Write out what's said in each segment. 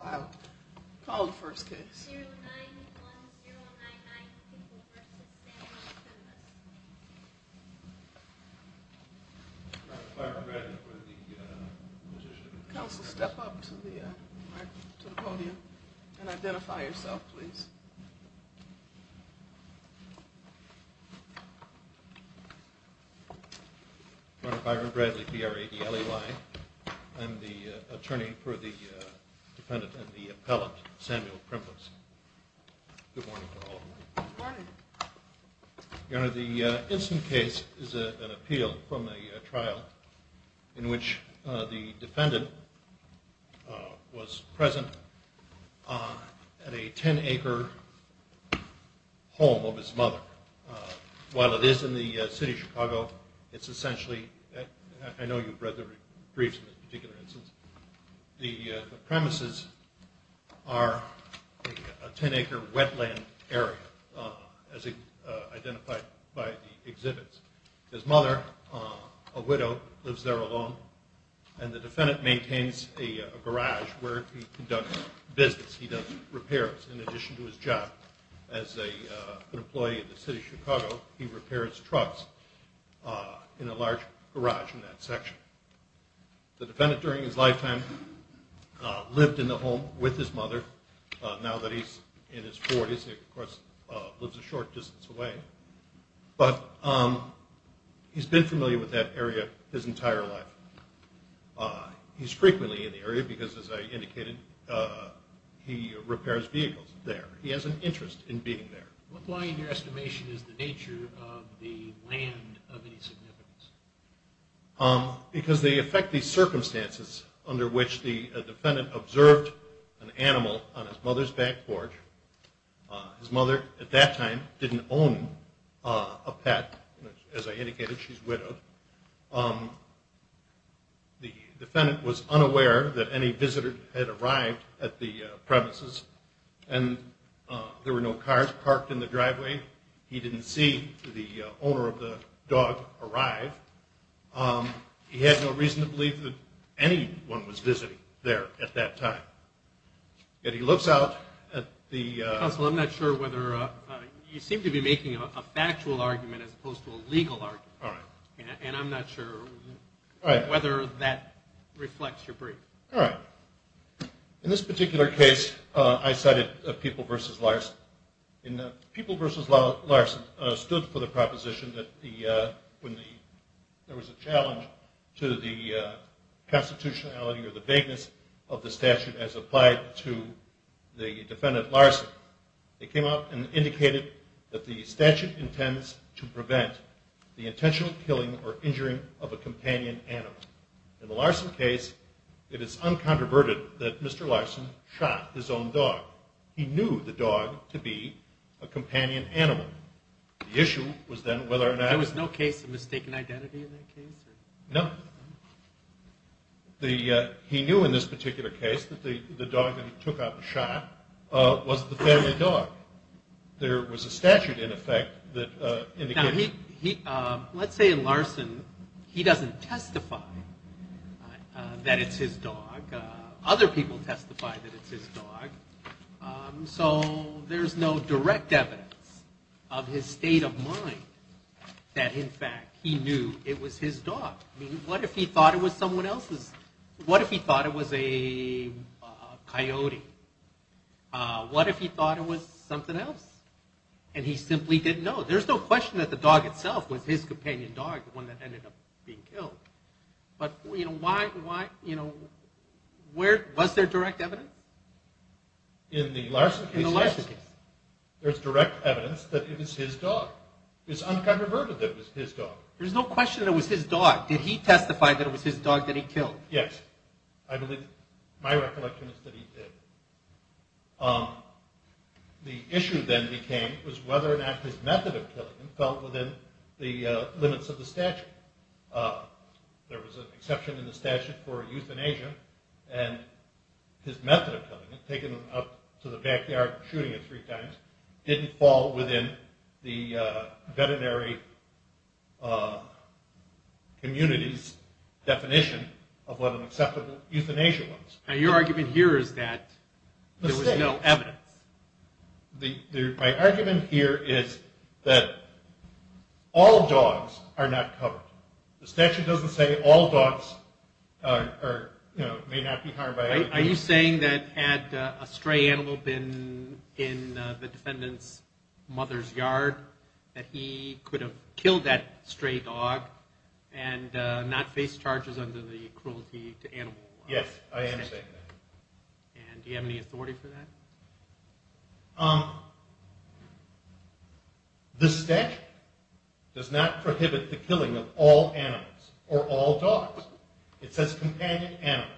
I'll call the first case. Byron Bradley for the petition. Counsel, step up to the podium and identify yourself, please. I'm Byron Bradley, B-R-A-D-L-E-Y. I'm the attorney for the defendant and the appellant, Samuel Primbas. Good morning to all of you. Good morning. Your Honor, the instant case is an appeal from a trial in which the defendant was present at a 10-acre home of his mother. While it is in the city of Chicago, it's essentially, I know you've read the briefs in this particular instance, the premises are a 10-acre wetland area as identified by the exhibits. His mother, a widow, lives there alone. And the defendant maintains a garage where he conducts business. He does repairs in addition to his job. As an employee of the city of Chicago, he repairs trucks in a large garage in that section. The defendant during his lifetime lived in the home with his mother. Now that he's in his 40s, he, of course, lives a short distance away. But he's been familiar with that area his entire life. He's frequently in the area because, as I indicated, he repairs vehicles there. He has an interest in being there. What lie in your estimation is the nature of the land of any significance? Because they affect the circumstances under which the defendant observed an animal on his mother's back porch. His mother at that time didn't own a pet. As I indicated, she's widowed. The defendant was unaware that any visitor had arrived at the premises, and there were no cars parked in the driveway. He didn't see the owner of the dog arrive. He had no reason to believe that anyone was visiting there at that time. Yet he looks out at the- Counsel, I'm not sure whether you seem to be making a factual argument as opposed to a legal argument. All right. And I'm not sure whether that reflects your brief. All right. In this particular case, I cited People v. Larson. People v. Larson stood for the proposition that when there was a challenge to the constitutionality or the vagueness of the statute as applied to the defendant Larson, they came out and indicated that the statute intends to prevent the intentional killing or injuring of a companion animal. In the Larson case, it is uncontroverted that Mr. Larson shot his own dog. He knew the dog to be a companion animal. The issue was then whether or not- There was no case of mistaken identity in that case? No. He knew in this particular case that the dog that he took out and shot was the family dog. There was a statute in effect that indicated- Now, let's say in Larson he doesn't testify that it's his dog. Other people testify that it's his dog. So there's no direct evidence of his state of mind that in fact he knew it was his dog. I mean, what if he thought it was someone else's- What if he thought it was a coyote? What if he thought it was something else and he simply didn't know? There's no question that the dog itself was his companion dog, the one that ended up being killed. But why- Was there direct evidence? In the Larson case, yes. There's direct evidence that it was his dog. It's uncontroverted that it was his dog. There's no question that it was his dog. Did he testify that it was his dog that he killed? Yes, I believe- My recollection is that he did. The issue then became was whether or not his method of killing him fell within the limits of the statute. There was an exception in the statute for euthanasia, and his method of killing him, taking him up to the backyard and shooting him three times, didn't fall within the veterinary community's definition of what an acceptable euthanasia was. Now, your argument here is that there was no evidence. My argument here is that all dogs are not covered. The statute doesn't say all dogs may not be harmed by- Are you saying that had a stray animal been in the defendant's mother's yard, that he could have killed that stray dog and not face charges under the cruelty to animal law? Yes, I am saying that. And do you have any authority for that? The statute does not prohibit the killing of all animals or all dogs. It says companion animals.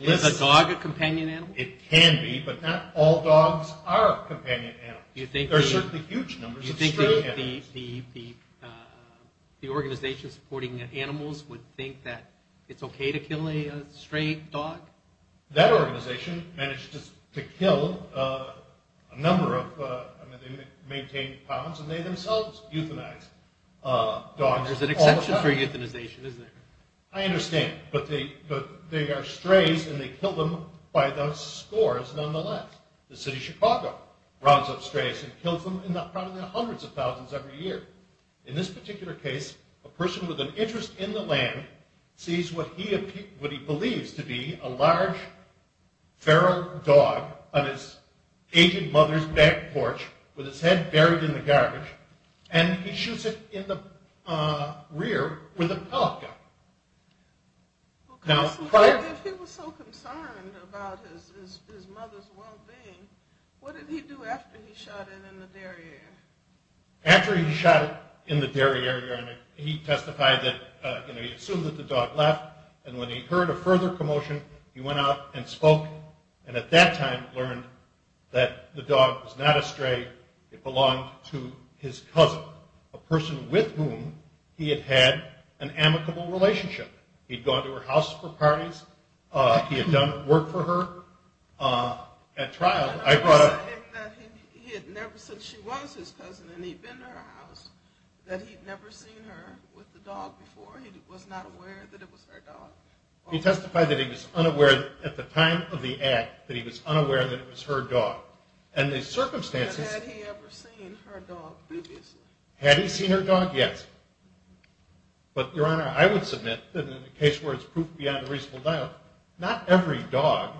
Is a dog a companion animal? It can be, but not all dogs are companion animals. There are certainly huge numbers of stray animals. Do you think the organization supporting animals would think that it's okay to kill a stray dog? That organization managed to kill a number of- I mean, they maintained ponds, and they themselves euthanized dogs all the time. It's not free euthanization, isn't it? I understand, but they are strays, and they kill them by the scores nonetheless. The city of Chicago rounds up strays and kills them in the hundreds of thousands every year. In this particular case, a person with an interest in the land sees what he believes to be a large feral dog on his aged mother's back porch with his head buried in the garbage, and he shoots it in the rear with a pellet gun. If he was so concerned about his mother's well-being, what did he do after he shot it in the derriere? After he shot it in the derriere, he testified that he assumed that the dog left, and when he heard a further commotion, he went out and spoke, and at that time learned that the dog was not a stray. It belonged to his cousin, a person with whom he had had an amicable relationship. He'd gone to her house for parties. He had done work for her at trial. He testified that he had never, since she was his cousin and he'd been to her house, that he'd never seen her with the dog before. He was not aware that it was her dog. He testified that he was unaware at the time of the act that he was unaware that it was her dog. Had he ever seen her dog previously? Had he seen her dog? Yes. But, Your Honor, I would submit that in a case where it's proof beyond a reasonable doubt, not every dog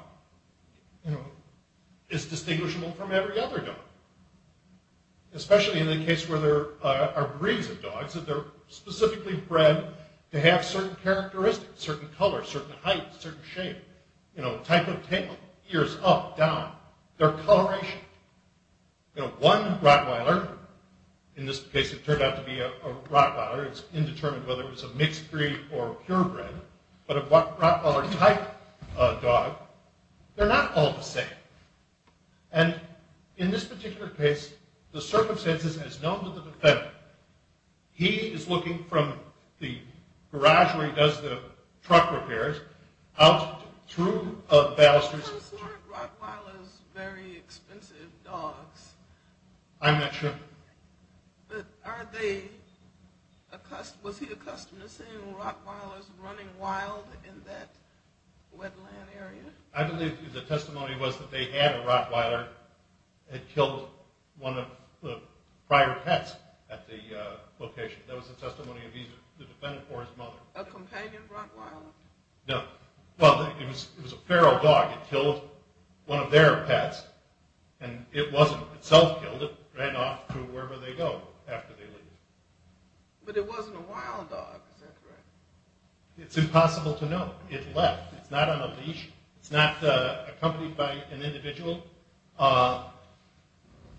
is distinguishable from every other dog, especially in the case where there are breeds of dogs, and they're specifically bred to have certain characteristics, certain color, certain height, certain shape, type of tail, ears up, down, their coloration. One Rottweiler, in this case it turned out to be a Rottweiler, it's indeterminate whether it was a mixed breed or purebred, but a Rottweiler type dog, they're not all the same. And in this particular case, the circumstances as known to the defendant, he is looking from the garage where he does the truck repairs out through a baluster. Weren't Rottweilers very expensive dogs? I'm not sure. But are they, was he accustomed to seeing Rottweilers running wild in that wetland area? I believe the testimony was that they had a Rottweiler that had killed one of the prior pets at the location. That was the testimony of either the defendant or his mother. A companion Rottweiler? No, well, it was a feral dog. It killed one of their pets, and it wasn't itself killed. It ran off to wherever they go after they leave. But it wasn't a wild dog, is that correct? It left. It's not on a leash. It's not accompanied by an individual.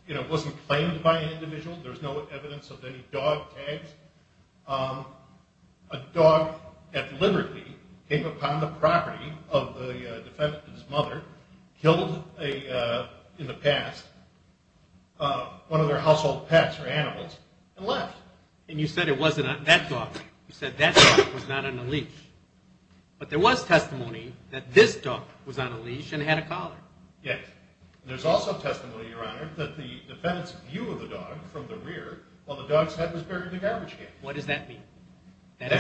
It wasn't claimed by an individual. There's no evidence of any dog tags. A dog that deliberately came upon the property of the defendant and his mother, killed in the past one of their household pets or animals, and left. And you said it wasn't that dog. You said that dog was not on a leash. But there was testimony that this dog was on a leash and had a collar. Yes, and there's also testimony, Your Honor, that the defendant's view of the dog from the rear while the dog's head was buried in the garbage can. What does that mean? That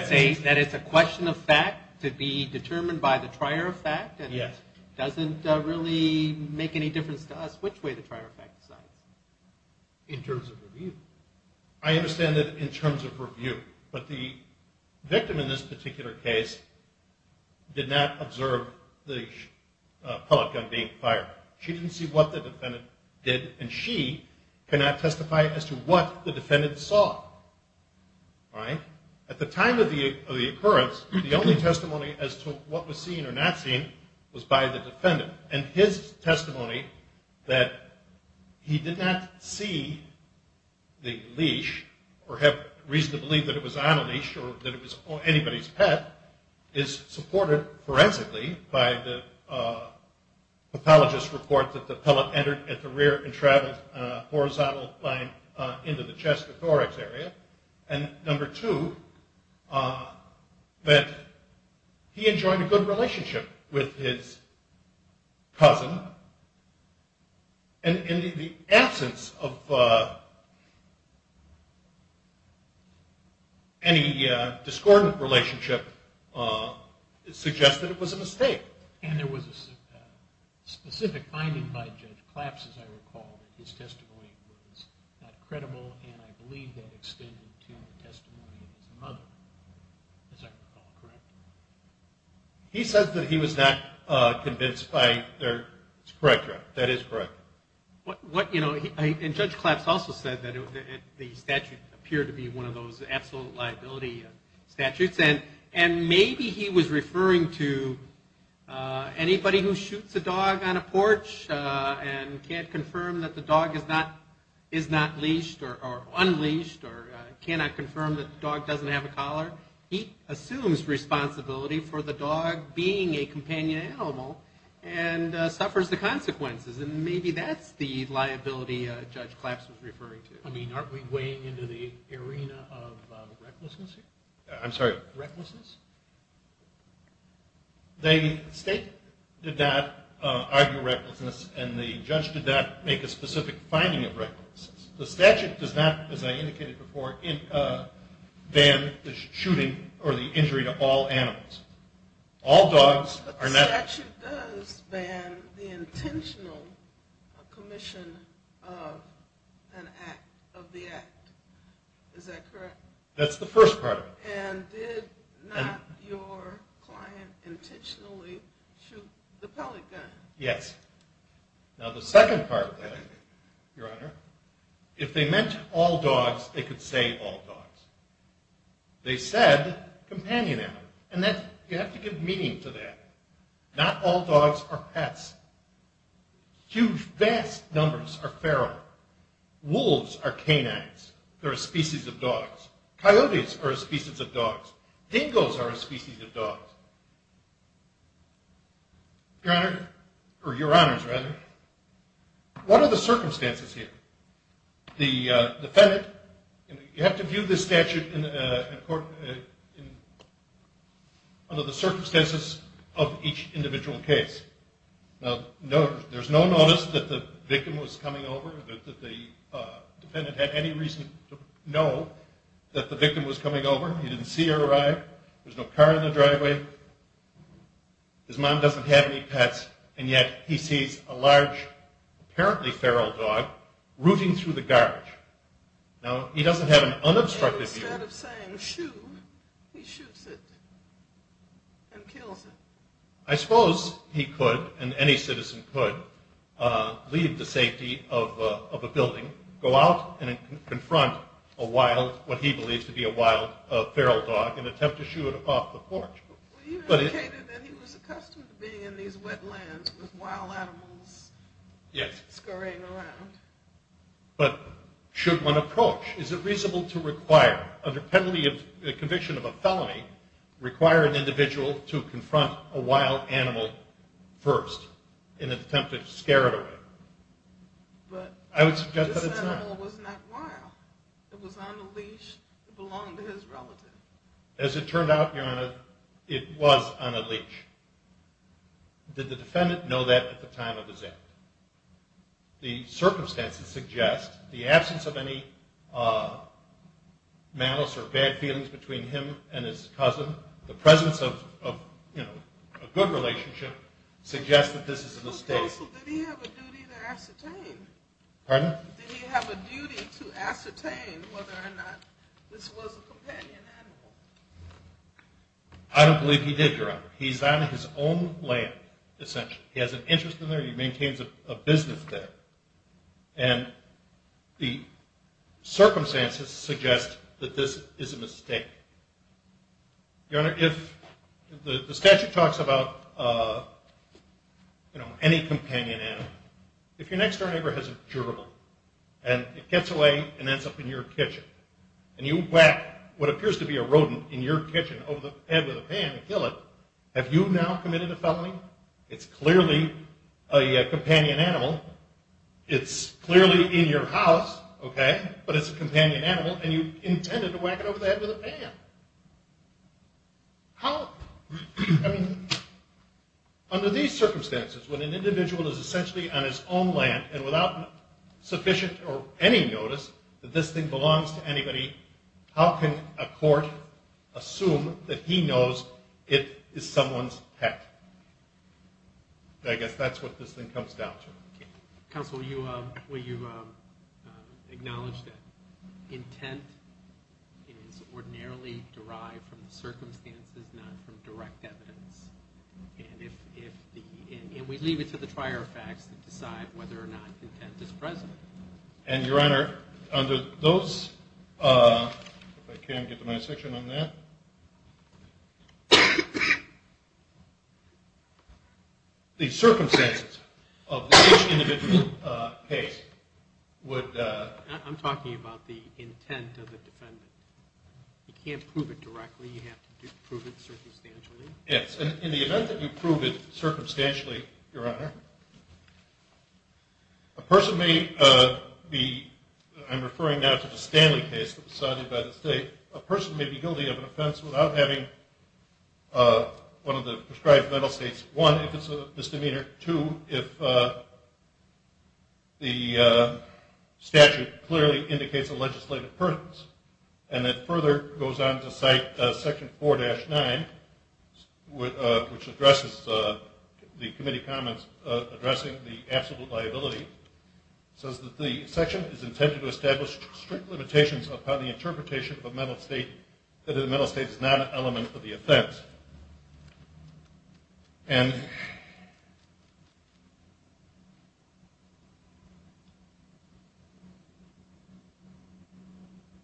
it's a question of fact to be determined by the trier of fact? Yes. It doesn't really make any difference to us which way the trier of fact decides. In terms of review. I understand that in terms of review. But the victim in this particular case did not observe the pellet gun being fired. She didn't see what the defendant did, and she cannot testify as to what the defendant saw. All right? At the time of the occurrence, the only testimony as to what was seen or not seen was by the defendant. And his testimony that he did not see the leash or have reason to believe that it was on a leash or that it was anybody's pet is supported forensically by the pathologist's report that the pellet entered at the rear and traveled a horizontal line into the chest or thorax area. And number two, that he enjoyed a good relationship with his cousin. And the absence of any discordant relationship suggests that it was a mistake. And there was a specific finding by Judge Claps, as I recall, that his testimony was not credible and I believe that extended to the testimony of his mother, as I recall, correct? He says that he was not convinced by their... That is correct. And Judge Claps also said that the statute appeared to be one of those absolute liability statutes. And maybe he was referring to anybody who shoots a dog on a porch and can't confirm that the dog is not leashed or unleashed or cannot confirm that the dog doesn't have a collar. He assumes responsibility for the dog being a companion animal and suffers the consequences. And maybe that's the liability Judge Claps was referring to. I mean, aren't we weighing into the arena of recklessness here? I'm sorry? Recklessness? The state did not argue recklessness and the judge did not make a specific finding of recklessness. The statute does not, as I indicated before, ban the shooting or the injury to all animals. All dogs are not... But the statute does ban the intentional commission of the act. Is that correct? That's the first part of it. And did not your client intentionally shoot the pellet gun? Yes. Now the second part of that, Your Honor, if they meant all dogs, they could say all dogs. They said companion animals, and you have to give meaning to that. Not all dogs are pets. Huge, vast numbers are feral. Wolves are canines. They're a species of dogs. Coyotes are a species of dogs. Dingoes are a species of dogs. Your Honor, or Your Honors, rather, what are the circumstances here? The defendant... You have to view this statute under the circumstances of each individual case. Now, there's no notice that the victim was coming over, that the defendant had any reason to know that the victim was coming over. He didn't see her arrive. There's no car in the driveway. His mom doesn't have any pets, and yet he sees a large, apparently feral dog rooting through the garbage. Now, he doesn't have an unobstructed view. And instead of saying shoo, he shoots it and kills it. I suppose he could, and any citizen could, leave the safety of a building, go out and confront a wild, what he believes to be a wild feral dog, and attempt to shoo it off the porch. Well, you indicated that he was accustomed to being in these wetlands with wild animals scurrying around. But should one approach? Is it reasonable to require, under penalty of conviction of a felony, require an individual to confront a wild animal first, in an attempt to scare it away? But this animal was not wild. It was on a leash. It belonged to his relative. As it turned out, Your Honor, it was on a leash. Did the defendant know that at the time of his act? The circumstances suggest the absence of any malice or bad feelings between him and his cousin, the presence of, you know, a good relationship, suggests that this is a mistake. Pardon? I don't believe he did, Your Honor. He's on his own land, essentially. He has an interest in there. He maintains a business there. And the circumstances suggest that this is a mistake. Your Honor, if the statute talks about, you know, any companion animal, if your next-door neighbor has a gerbil, and it gets away and ends up in your kitchen, and you whack what appears to be a rodent in your kitchen over the head with a pan and kill it, have you now committed a felony? It's clearly a companion animal. It's clearly in your house, okay, but it's a companion animal, and you intended to whack it over the head with a pan. How? I mean, under these circumstances, when an individual is essentially on his own land and without sufficient or any notice that this thing belongs to anybody, how can a court assume that he knows it is someone's pet? I guess that's what this thing comes down to. Counsel, will you acknowledge that intent is ordinarily derived from the circumstances, not from direct evidence? And we leave it to the prior facts to decide whether or not intent is present. And, Your Honor, under those, if I can get to my section on that, the circumstances of which individual pays would be? I'm talking about the intent of the defendant. You can't prove it directly. You have to prove it circumstantially. Yes. In the event that you prove it circumstantially, Your Honor, a person may be, I'm referring now to the Stanley case that was decided by the state, a person may be guilty of an offense without having one of the prescribed mental states, one, if it's a misdemeanor, two, if the statute clearly indicates a legislative purpose, and it further goes on to cite section 4-9, which addresses the committee comments, addressing the absolute liability, says that the section is intended to establish strict limitations upon the interpretation of a mental state that the mental state is not an element of the offense. And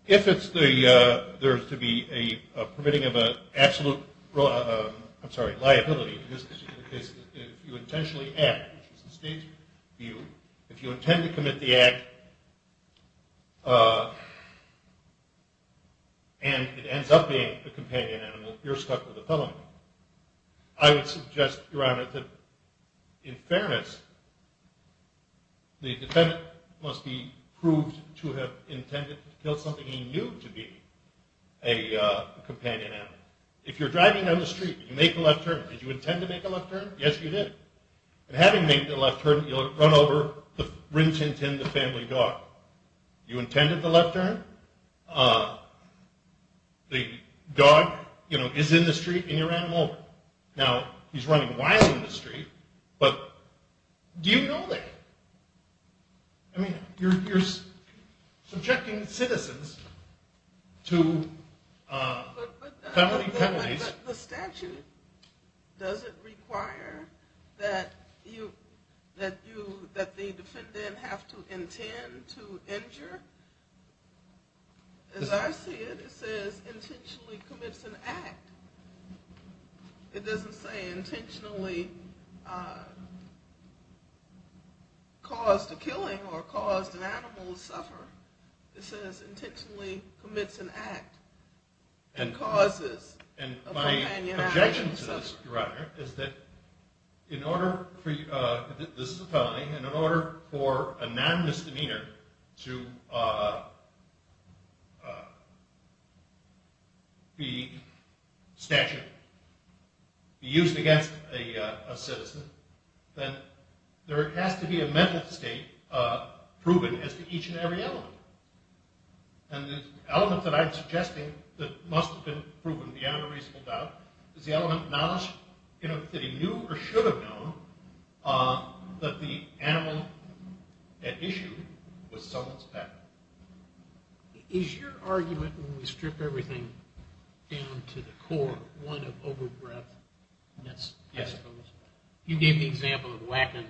if it's the, there's to be a permitting of an absolute, I'm sorry, liability, in this particular case, if you intentionally act, which is the state's view, if you intend to commit the act and it ends up being a companion animal, you're stuck with a felony. I would suggest, Your Honor, that in fairness, the defendant must be proved to have intended to kill something he knew to be a companion animal. If you're driving down the street and you make a left turn, did you intend to make a left turn? Yes, you did. And having made the left turn, you'll run over the Rin Tin Tin, the family dog. You intended the left turn. The dog, you know, is in the street and you ran him over. Now, he's running wild in the street, but do you know that? I mean, you're subjecting citizens to felony penalties. But the statute, does it require that the defendant have to intend to injure? As I see it, it says intentionally commits an act. It doesn't say intentionally caused a killing or caused an animal to suffer. It says intentionally commits an act and causes a companion animal to suffer. And my objection to this, Your Honor, is that in order for a non-misdemeanor to be statute, be used against a citizen, then there has to be a mental state proven as to each and every element. And the element that I'm suggesting that must have been proven beyond a reasonable doubt is the element of knowledge that he knew or should have known that the animal at issue was someone's pet. Is your argument when we strip everything down to the core one of over-breadth? Yes. I suppose. You gave the example of whacking,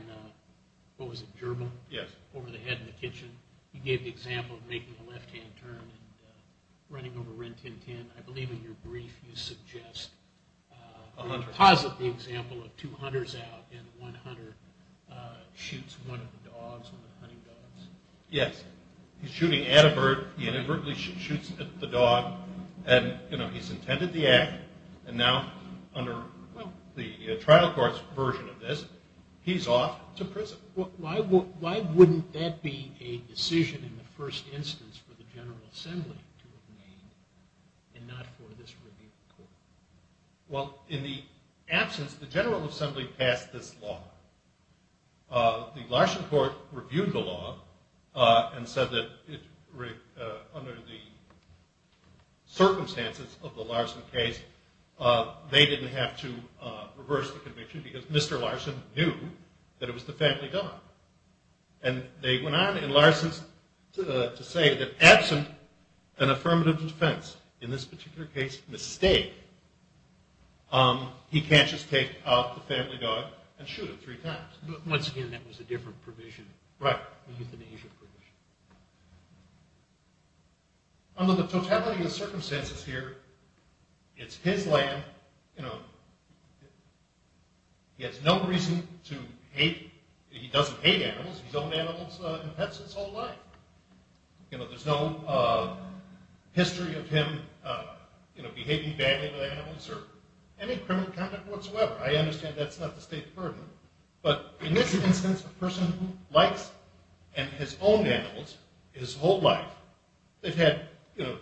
what was it, gerbil? Yes. Over the head in the kitchen. You gave the example of making a left-hand turn and running over Rin Tin Tin. I believe in your brief you suggest, or posit the example of two hunters out and one hunter shoots one of the dogs, one of the hunting dogs. Yes. He's shooting at a bird. He inadvertently shoots at the dog. And, you know, he's intended the act. And now under the trial court's version of this, he's off to prison. Why wouldn't that be a decision in the first instance for the General Assembly to have made and not for this review of the court? Well, in the absence, the General Assembly passed this law. The Larson court reviewed the law and said that under the circumstances of the Larson case, they didn't have to reverse the conviction because Mr. Larson knew that it was the family dog. And they went on in Larson's to say that absent an affirmative defense, in this particular case, mistake, he can't just take out the family dog and shoot it three times. But once again, that was a different provision. Right. A euthanasia provision. Under the totality of circumstances here, it's his land. You know, he has no reason to hate. He doesn't hate animals. He's owned animals and pets his whole life. You know, there's no history of him, you know, behaving badly with animals or any criminal conduct whatsoever. I understand that's not the State Department. But in this instance, a person who likes and has owned animals his whole life, they've had, you know,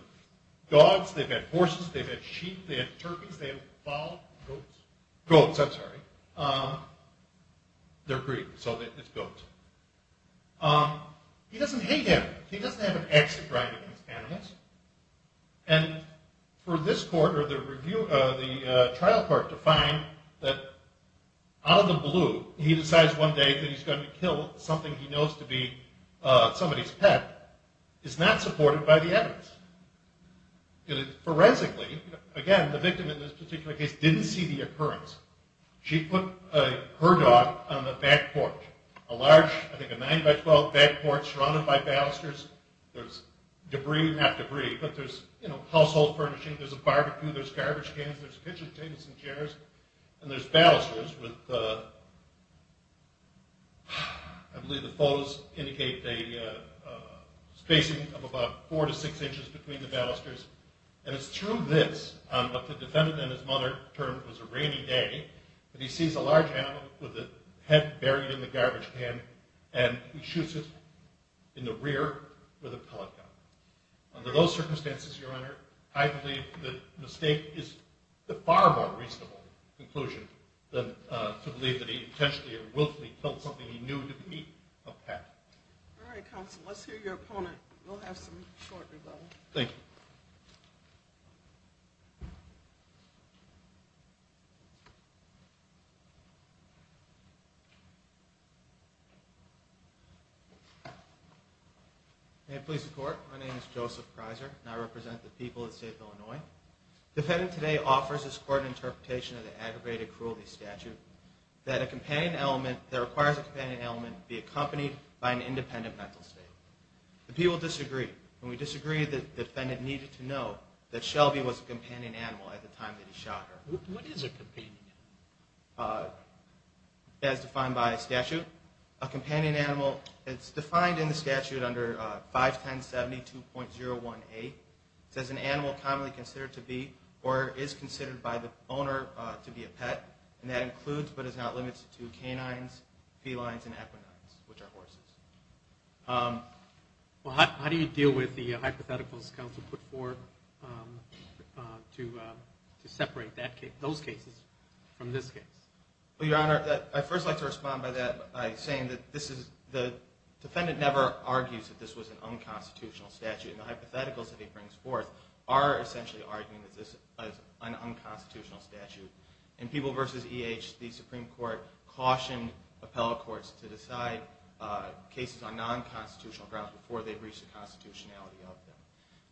dogs, they've had horses, they've had sheep, they've had turkeys, they've had fowl, goats. Goats, I'm sorry. They're breed, so it's goats. He doesn't hate animals. He doesn't have an axe to grind against animals. And for this court or the trial court to find that out of the blue, he decides one day that he's going to kill something he knows to be somebody's pet, is not supported by the evidence. Forensically, again, the victim in this particular case didn't see the occurrence. She put her dog on the back porch. A large, I think a 9 by 12 back porch surrounded by balusters. There's debris, not debris, but there's, you know, household furnishings. There's a barbecue. There's garbage cans. There's kitchen tables and chairs. And there's balusters with, I believe the photos indicate a spacing of about four to six inches between the balusters. And it's through this, what the defendant and his mother termed was a rainy day, that he sees a large animal with a head buried in the garbage can and shoots it in the rear with a pellet gun. Under those circumstances, Your Honor, I believe the mistake is a far more reasonable conclusion than to believe that he intentionally or willfully killed something he knew to be a pet. All right, counsel. Let's hear your opponent. We'll have some short rebuttals. Thank you. May it please the Court, my name is Joseph Prizer and I represent the people of the state of Illinois. The defendant today offers this court an interpretation of the aggravated cruelty statute that a companion element that requires a companion element be accompanied by an independent mental state. The people disagree, and we disagree that the defendant needed to know that Shelby was a companion animal at the time that he shot her. What is a companion animal? As defined by statute, a companion animal is defined in the statute under 51072.018. It says an animal commonly considered to be or is considered by the owner to be a pet, and that includes but is not limited to canines, felines, and equinines, which are horses. How do you deal with the hypotheticals counsel put forth to separate those cases from this case? Your Honor, I'd first like to respond by saying that the defendant never argues that this was an unconstitutional statute. The hypotheticals that he brings forth are essentially arguing that this is an unconstitutional statute. In People v. E.H., the Supreme Court cautioned appellate courts to decide cases on non-constitutional grounds before they reached the constitutionality of them.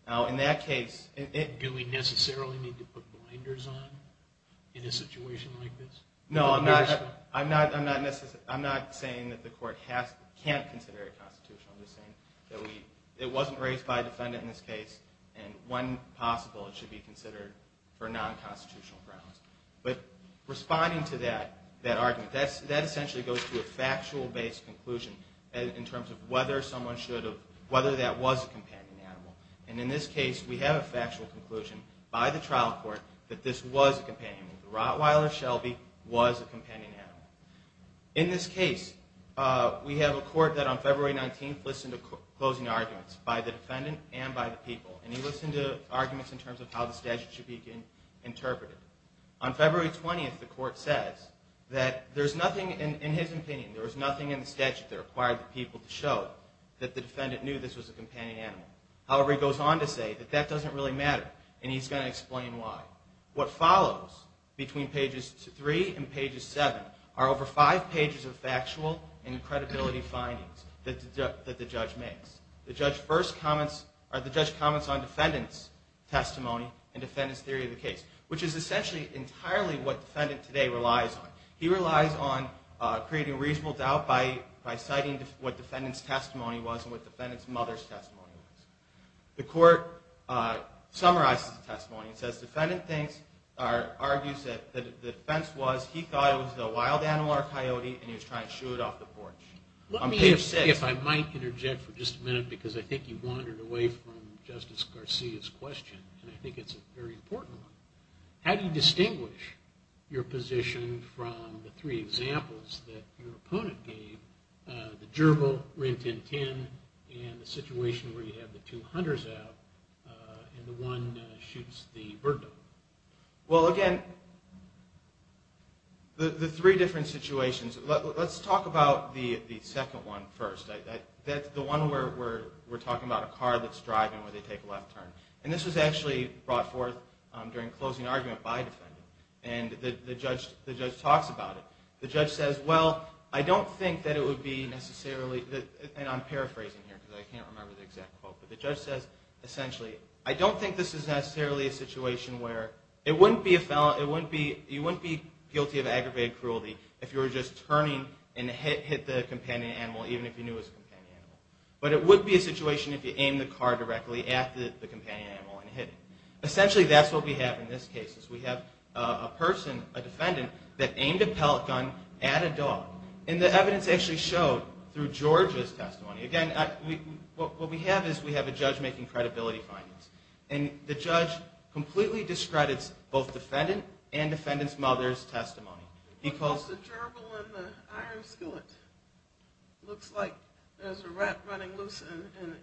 Now, in that case... Do we necessarily need to put blinders on in a situation like this? No, I'm not saying that the court can't consider it constitutional. I'm just saying that it wasn't raised by a defendant in this case, and when responding to that argument, that essentially goes to a factual-based conclusion in terms of whether that was a companion animal. And in this case, we have a factual conclusion by the trial court that this was a companion animal. The Rottweiler Shelby was a companion animal. In this case, we have a court that on February 19th listened to closing arguments by the defendant and by the people, and they listened to arguments in terms of how the statute should be interpreted. On February 20th, the court says that there's nothing in his opinion, there was nothing in the statute that required the people to show that the defendant knew this was a companion animal. However, he goes on to say that that doesn't really matter, and he's going to explain why. What follows between pages three and pages seven are over five pages of factual and credibility findings that the judge makes. The judge first comments on defendant's testimony and defendant's theory of defense, which is essentially entirely what defendant today relies on. He relies on creating reasonable doubt by citing what defendant's testimony was and what defendant's mother's testimony was. The court summarizes the testimony and says, defendant argues that the defense was he thought it was a wild animal or coyote, and he was trying to shoo it off the porch. On page six. Let me, if I might interject for just a minute, because I think you've wandered away from Justice Garcia's question, and I think it's a very important one. How do you distinguish your position from the three examples that your opponent gave, the gerbil, Rin Tin Tin, and the situation where you have the two hunters out and the one shoots the bird dog? Well, again, the three different situations. Let's talk about the second one first, the one where we're talking about a car that's driving where they take a left turn. And this was actually brought forth during a closing argument by a defendant. And the judge talks about it. The judge says, well, I don't think that it would be necessarily, and I'm paraphrasing here because I can't remember the exact quote, but the judge says, essentially, I don't think this is necessarily a situation where it wouldn't be a felon, you wouldn't be guilty of aggravated cruelty if you were just turning and hit the companion animal, even if you knew it was a companion animal. But it would be a situation if you aimed the car directly at the companion animal and hit it. Essentially, that's what we have in this case, is we have a person, a defendant, that aimed a pellet gun at a dog. And the evidence actually showed through George's testimony. Again, what we have is we have a judge making credibility findings. And the judge completely discredits both defendant and defendant's mother's testimony. He calls the gerbil in the iron skillet. Looks like there's a rat running loose in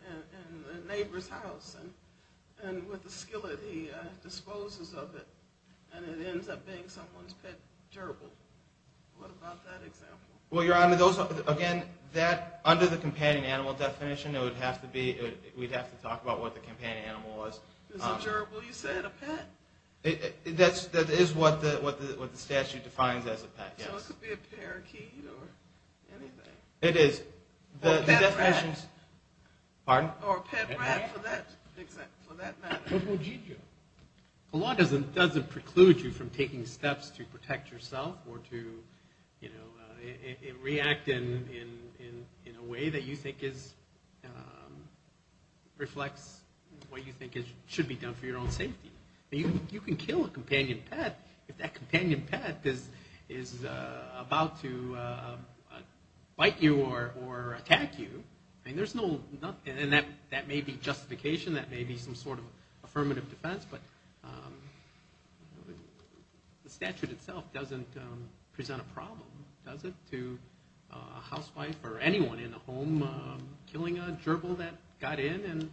the neighbor's house. And with the skillet, he disposes of it. And it ends up being someone's pet gerbil. What about that example? Well, Your Honor, those are, again, that, under the companion animal definition, it would have to be, we'd have to talk about what the companion animal was. Is a gerbil, you said, a pet? That is what the statute defines as a pet, yes. So it could be a parakeet or anything. It is. Or a pet rat. Pardon? Or a pet rat, for that matter. What about Jijo? The law doesn't preclude you from taking steps to protect yourself or to react in a way that you think reflects what you think should be done for your own safety. You can kill a companion pet if that companion pet is about to bite you or attack you. And there's no, and that may be justification. That may be some sort of affirmative defense. But the statute itself doesn't present a problem, does it, to a housewife or anyone in the home killing a gerbil that got in and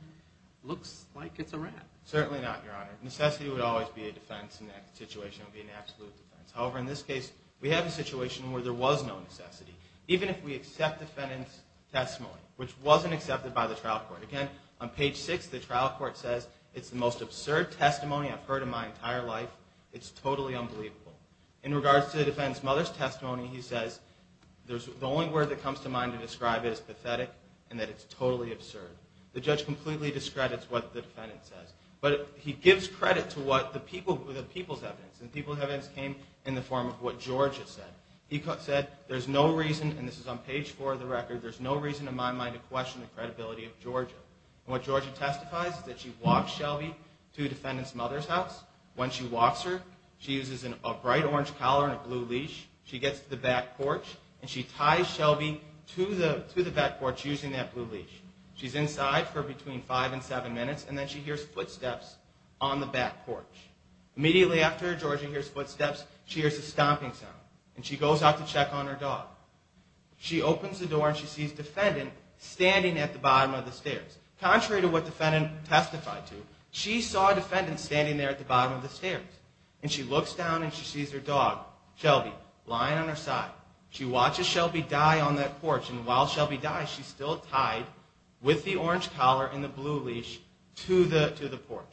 looks like it's a rat? Certainly not, Your Honor. Necessity would always be a defense in that situation. It would be an absolute defense. However, in this case, we have a situation where there was no necessity. Even if we accept the defendant's testimony, which wasn't accepted by the trial court. Again, on page six, the trial court says, it's the most absurd testimony I've heard in my entire life. It's totally unbelievable. In regards to the defendant's mother's testimony, he says, the only word that comes to mind to describe it is pathetic and that it's totally absurd. The judge completely discredits what the defendant says. But he gives credit to the people's evidence. And the people's evidence came in the form of what Georgia said. He said, there's no reason, and this is on page four of the record, there's no reason in my mind to question the credibility of Georgia. And what Georgia testifies is that she walks Shelby to the defendant's mother's house. When she walks her, she uses a bright orange collar and a blue leash. She gets to the back porch, and she ties Shelby to the back porch using that blue leash. She's inside for between five and seven minutes, and then she hears footsteps on the back porch. Immediately after Georgia hears footsteps, she hears a stomping sound, and she goes out to check on her dog. She opens the door, and she sees the defendant standing at the bottom of the stairs. Contrary to what the defendant testified to, she saw a defendant standing there at the bottom of the stairs. And she looks down, and she sees her dog, Shelby, lying on her side. She watches Shelby die on that porch, and while Shelby dies, she's still tied with the orange collar and the blue leash to the porch.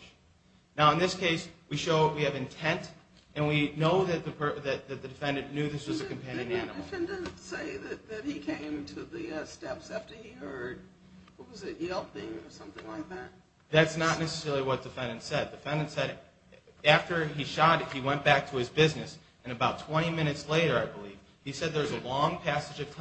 Now, in this case, we have intent, and we know that the defendant knew this was a companion animal. Did the defendant say that he came to the steps after he heard, what was it, yelping or something like that? That's not necessarily what the defendant said. The defendant said after he shot it, he went back to his business, and about 20 minutes later, I believe, he said there was a long passage of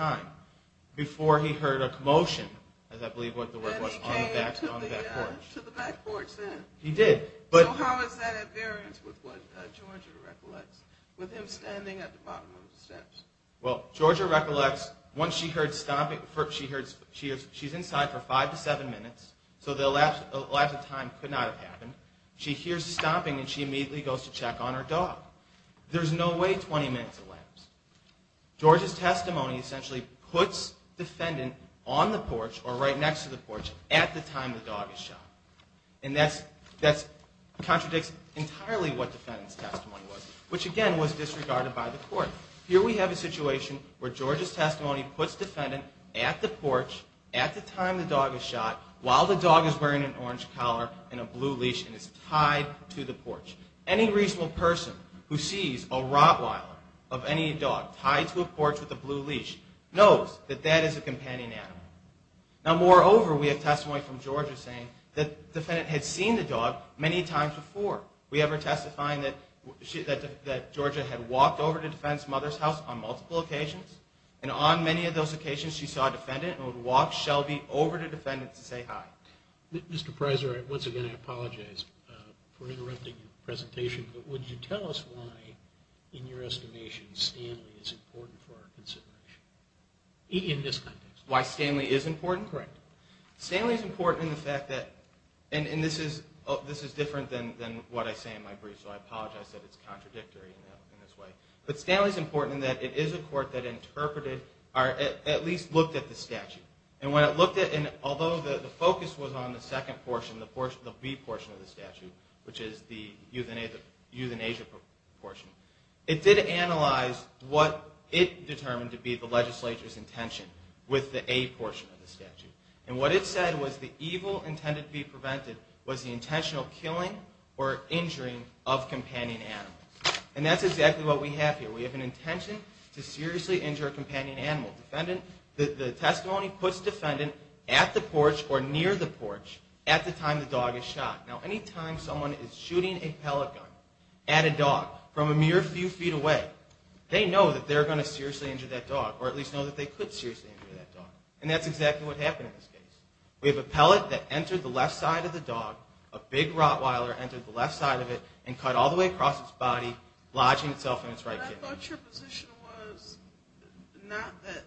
motion, as I believe the word was, on the back porch. That he came to the back porch then. He did. So how is that at variance with what Georgia recollects, with him standing at the bottom of the steps? Well, Georgia recollects, once she heard stomping, she's inside for five to seven minutes, so the lapse of time could not have happened. She hears stomping, and she immediately goes to check on her dog. There's no way 20 minutes elapsed. Georgia's testimony essentially puts defendant on the porch or right next to the porch at the time the dog is shot. And that contradicts entirely what defendant's testimony was, which again was disregarded by the court. Here we have a situation where Georgia's testimony puts defendant at the porch at the time the dog is shot while the dog is wearing an orange collar and a blue leash and is tied to the porch. Any reasonable person who sees a Rottweiler of any dog tied to a porch with a blue leash knows that that is a companion animal. Now, moreover, we have testimony from Georgia saying that defendant had seen the dog many times before. We have her testifying that Georgia had walked over to defendant's mother's house on multiple occasions, and on many of those occasions she saw defendant and would walk Shelby over to defendant to say hi. Mr. Preiser, once again I apologize for interrupting your presentation, but would you tell us why in your estimation Stanley is important for our consideration in this context? Why Stanley is important? Correct. Stanley is important in the fact that, and this is different than what I say in my brief, so I apologize that it's contradictory in this way, but Stanley is important in that it is a court that interpreted or at least looked at the evidence that was on the second portion, the B portion of the statute, which is the euthanasia portion. It did analyze what it determined to be the legislature's intention with the A portion of the statute. And what it said was the evil intended to be prevented was the intentional killing or injuring of companion animals. And that's exactly what we have here. We have an intention to seriously injure a companion animal. The testimony puts defendant at the porch or near the porch at the time the dog is shot. Now any time someone is shooting a pellet gun at a dog from a mere few feet away, they know that they're going to seriously injure that dog or at least know that they could seriously injure that dog. And that's exactly what happened in this case. We have a pellet that entered the left side of the dog, a big Rottweiler entered the left side of it and cut all the way across its body, lodging itself in its right kidney. I thought your position was not that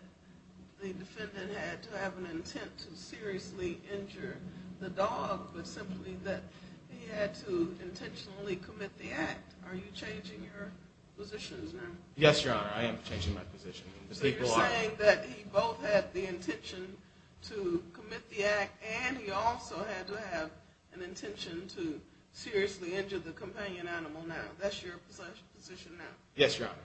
the defendant had to have an intent to seriously injure the dog, but simply that he had to intentionally commit the act. Are you changing your positions now? Yes, Your Honor. I am changing my position. So you're saying that he both had the intention to commit the act and he also had to have an intention to seriously injure the companion animal now. That's your position now? Yes, Your Honor.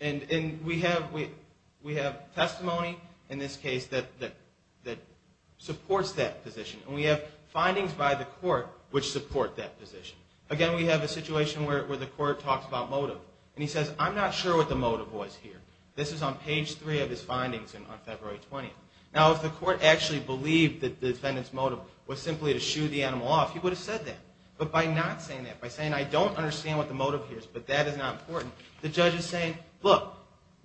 And we have testimony in this case that supports that position. And we have findings by the court which support that position. Again, we have a situation where the court talks about motive. And he says, I'm not sure what the motive was here. This is on page three of his findings on February 20th. Now if the court actually believed that the defendant's motive was simply to shoot the animal off, he would have said that. But by not saying that, by saying I don't understand what the motive is, but that is not important, the judge is saying, look,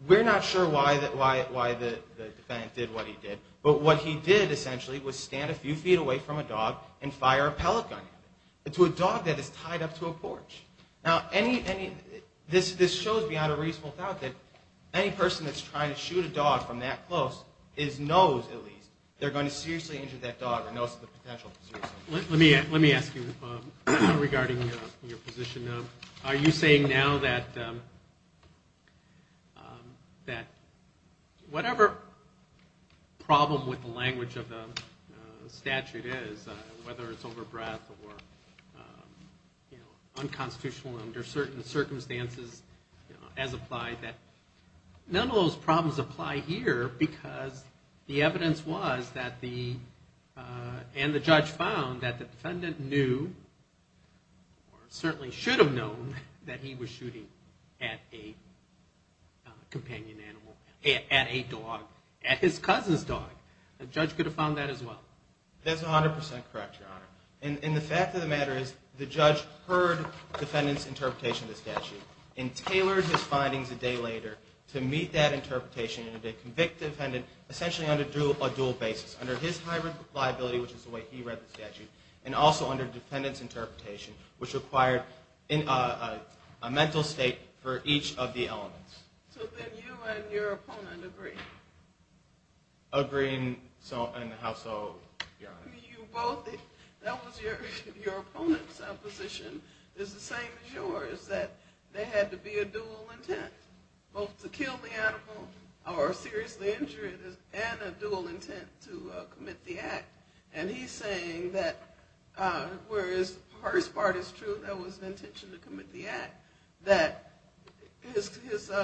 we're not sure why the defendant did what he did, but what he did essentially was stand a few feet away from a dog and fire a pellet gun at it, to a dog that is tied up to a porch. Now this shows beyond a reasonable doubt that any person that's trying to shoot a dog from that close knows at least they're going to seriously injure that dog and knows the potential. Let me ask you regarding your position. Are you saying now that whatever problem with the language of the statute is, whether it's over breath or unconstitutional under certain circumstances as applied, that none of those problems apply here because the evidence was that the, and the judge found that the defendant knew or certainly should have known that he was shooting at a companion animal, at a dog, at his cousin's dog. The judge could have found that as well. That's 100% correct, Your Honor. And the fact of the matter is the judge heard defendant's interpretation of the statute and tailored his findings a day later to meet that interpretation and convict the defendant essentially on a dual basis, under his hybrid liability, which is the way he read the statute, and also under defendant's interpretation, which required a mental state for each of the elements. So then you and your opponent agree? Agree in how so, Your Honor? You both, that was your opponent's position. It's the same as yours, that there had to be a dual intent, both to kill the dog or seriously injure it, and a dual intent to commit the act. And he's saying that, whereas her part is true, there was an intention to commit the act, that his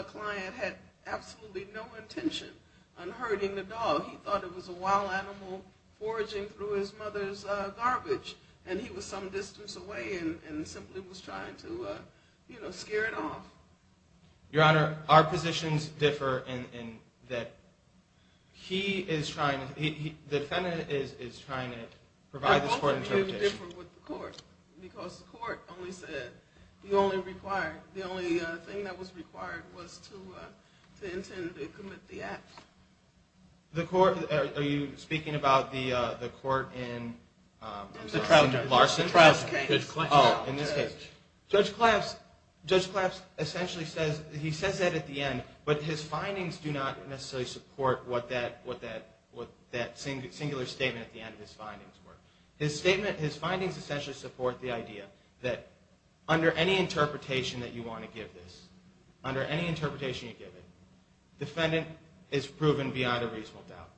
client had absolutely no intention on hurting the dog. He thought it was a wild animal foraging through his mother's garbage, and he was some distance away and simply was trying to, you know, scare it off. Your Honor, our positions differ in that he is trying, the defendant is trying to provide this court interpretation. It's different with the court, because the court only said, the only required, the only thing that was required was to intend to commit the act. The court, are you speaking about the court in Larson? In this case. Judge Claps, Judge Claps essentially says, he says that at the end, but his findings do not necessarily support what that singular statement at the end of his findings were. His statement, his findings essentially support the idea that under any interpretation that you want to give this, under any interpretation you give it, defendant is proven beyond a reasonable doubt.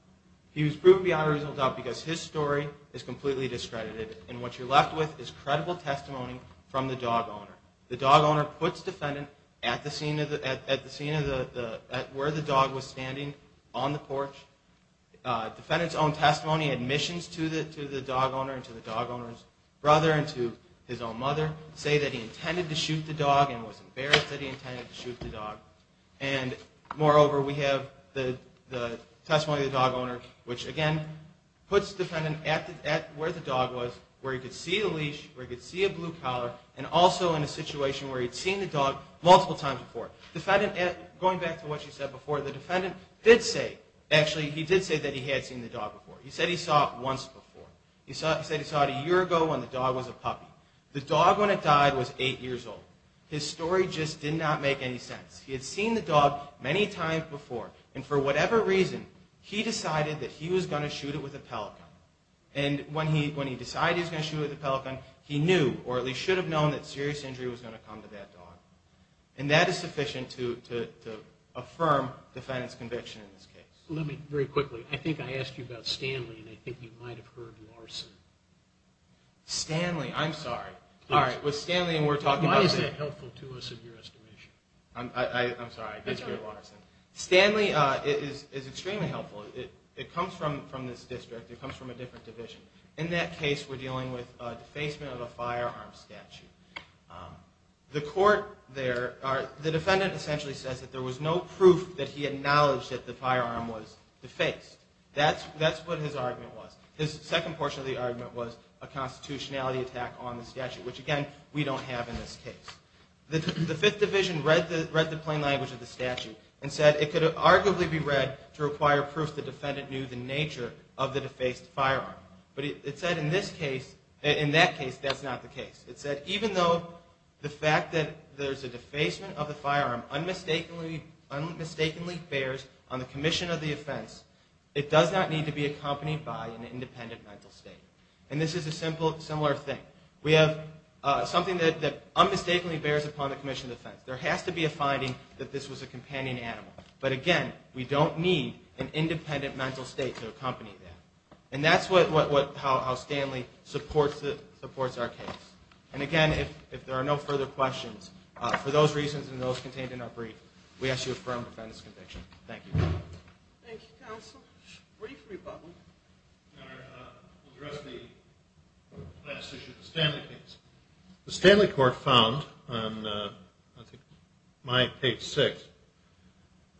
He was proven beyond a reasonable doubt because his story is completely discredited. And what you're left with is credible testimony from the dog owner. The dog owner puts defendant at the scene of the, at the scene of the, at where the dog was standing on the porch. Defendant's own testimony, admissions to the dog owner and to the dog owner's brother and to his own mother say that he intended to shoot the dog and was embarrassed that he intended to shoot the dog. And moreover, we have the testimony of the dog owner, which again, puts defendant at the, at where the dog was, where he could see a leash, where he could see a blue collar, and also in a situation where he'd seen the dog multiple times before. Defendant, going back to what you said before, the defendant did say, actually he did say that he had seen the dog before. He said he saw it once before. He said he saw it a year ago when the dog was a puppy. The dog when it died was eight years old. His story just did not make any sense. He had seen the dog many times before, and for whatever reason, he decided that he was going to shoot it with a Pelican. And when he decided he was going to shoot it with a Pelican, he knew, or at least should have known, that serious injury was going to come to that dog. And that is sufficient to affirm defendant's conviction in this case. Let me, very quickly, I think I asked you about Stanley, and I think you might have heard Larson. Stanley, I'm sorry. All right, with Stanley, and we're talking about the... Why is that helpful to us in your estimation? I'm sorry, I did hear Larson. Stanley is extremely helpful. It comes from this district. It comes from a different division. In that case, we're dealing with defacement of a firearm statute. The court there, the defendant essentially says that there was no proof that he acknowledged that the firearm was defaced. That's what his argument was. His second portion of the argument was a constitutionality attack on the statute, which, again, we don't have in this case. The Fifth Division read the plain language of the statute and said it could arguably be read to require proof the defendant knew the nature of the defaced firearm. But it said in this case, in that case, that's not the case. It said even though the fact that there's a defacement of the firearm unmistakably bears on the commission of the offense, it does not need to be accompanied by an independent mental state. And this is a similar thing. offense. There has to be a finding that this was a companion animal. But, again, we don't need an independent mental state to accompany that. And that's how Stanley supports our case. And, again, if there are no further questions, for those reasons and those contained in our brief, we ask you to affirm the defendant's conviction. Thank you. Thank you, counsel. Brief rebuttal. Your Honor, I'll address the last issue of the Stanley case. The Stanley court found on, I think, my page six,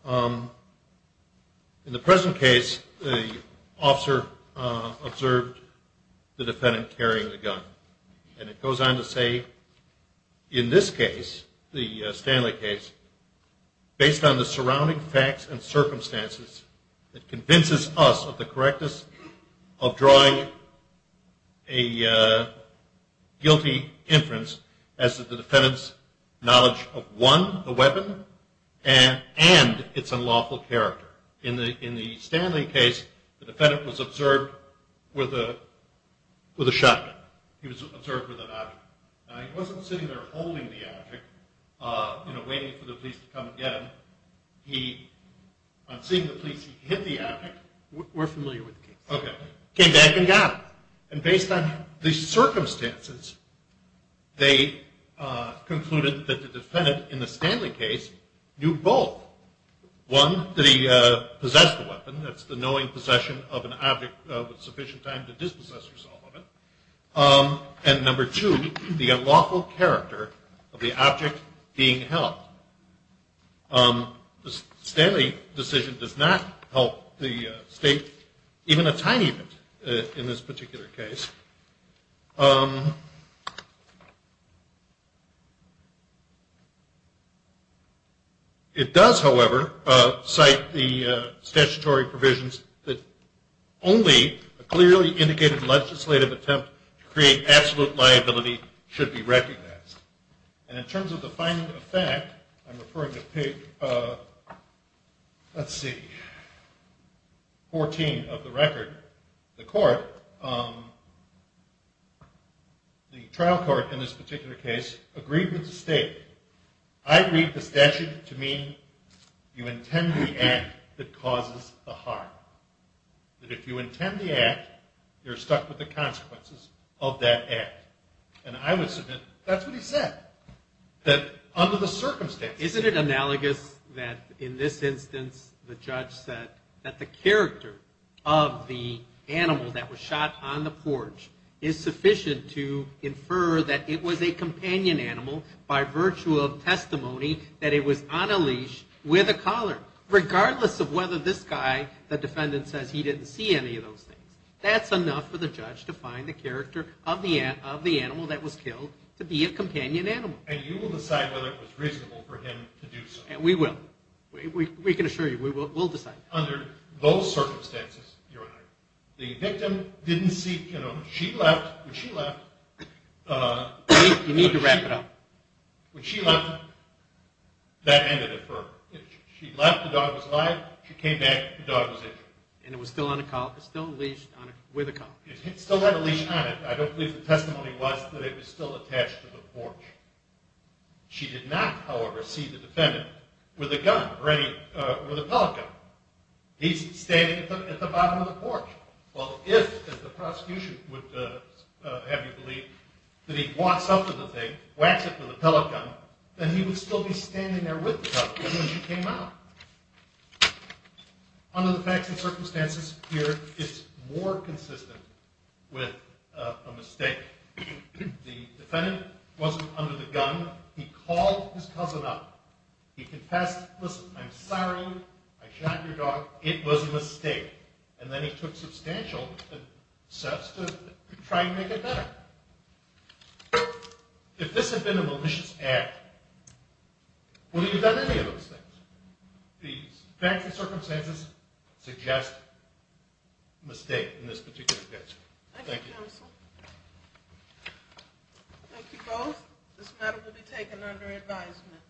in the present case, the officer observed the defendant carrying the gun. And it goes on to say, in this case, the Stanley case, that convinces us of the correctness of drawing a guilty inference as to the defendant's knowledge of one, the weapon, and its unlawful character. In the Stanley case, the defendant was observed with a shotgun. He was observed with an object. Now, he wasn't sitting there holding the object, you know, waiting for the police to come and get him. On seeing the police, he hid the object. We're familiar with the case. Okay. Came back and got it. And based on the circumstances, they concluded that the defendant in the Stanley case knew both. One, that he possessed the weapon. That's the knowing possession of an object with sufficient time to dispossess yourself of it. And, number two, the unlawful character of the object being held. The Stanley decision does not help the state even a tiny bit in this particular case. It does, however, cite the statutory provisions that only a clearly indicated legislative attempt to create absolute liability should be recognized. And in terms of the final effect, I'm referring to page, let's see, 14 of the record, the court, the trial court in this particular case, agreed with the state. I read the statute to mean you intend the act that causes the harm. That if you intend the act, you're stuck with the consequences of that act. And I would submit that's what he said, that under the circumstances. Isn't it analogous that in this instance the judge said that the character of the animal that was shot on the porch is sufficient to infer that it was a companion animal by virtue of testimony that it was on a leash with a collar, regardless of whether this guy, the defendant, says he didn't see any of those things. That's enough for the judge to find the character of the animal that was killed to be a companion animal. And you will decide whether it was reasonable for him to do so. And we will. We can assure you, we will decide. Under those circumstances, Your Honor, the victim didn't see, you know, she left, when she left. You need to wrap it up. When she left, that ended it for her. She left, the dog was alive. She came back, the dog was injured. And it was still on a collar, still leashed with a collar. It still had a leash on it. I don't believe the testimony was that it was still attached to the porch. She did not, however, see the defendant with a gun or with a pellet gun. He's standing at the bottom of the porch. Well, if, as the prosecution would have you believe, that he'd waxed up to the thing, waxed up with a pellet gun, then he would still be standing there with the pellet gun when she came out. Under the facts and circumstances here, it's more consistent with a mistake. The defendant wasn't under the gun. He called his cousin up. He confessed, listen, I'm sorry, I shot your dog. It was a mistake. And then he took substantial steps to try and make it better. If this had been a malicious act, would he have done any of those things? The facts and circumstances suggest a mistake in this particular case. Thank you. Thank you, counsel. Thank you both. This matter will be taken under advisement.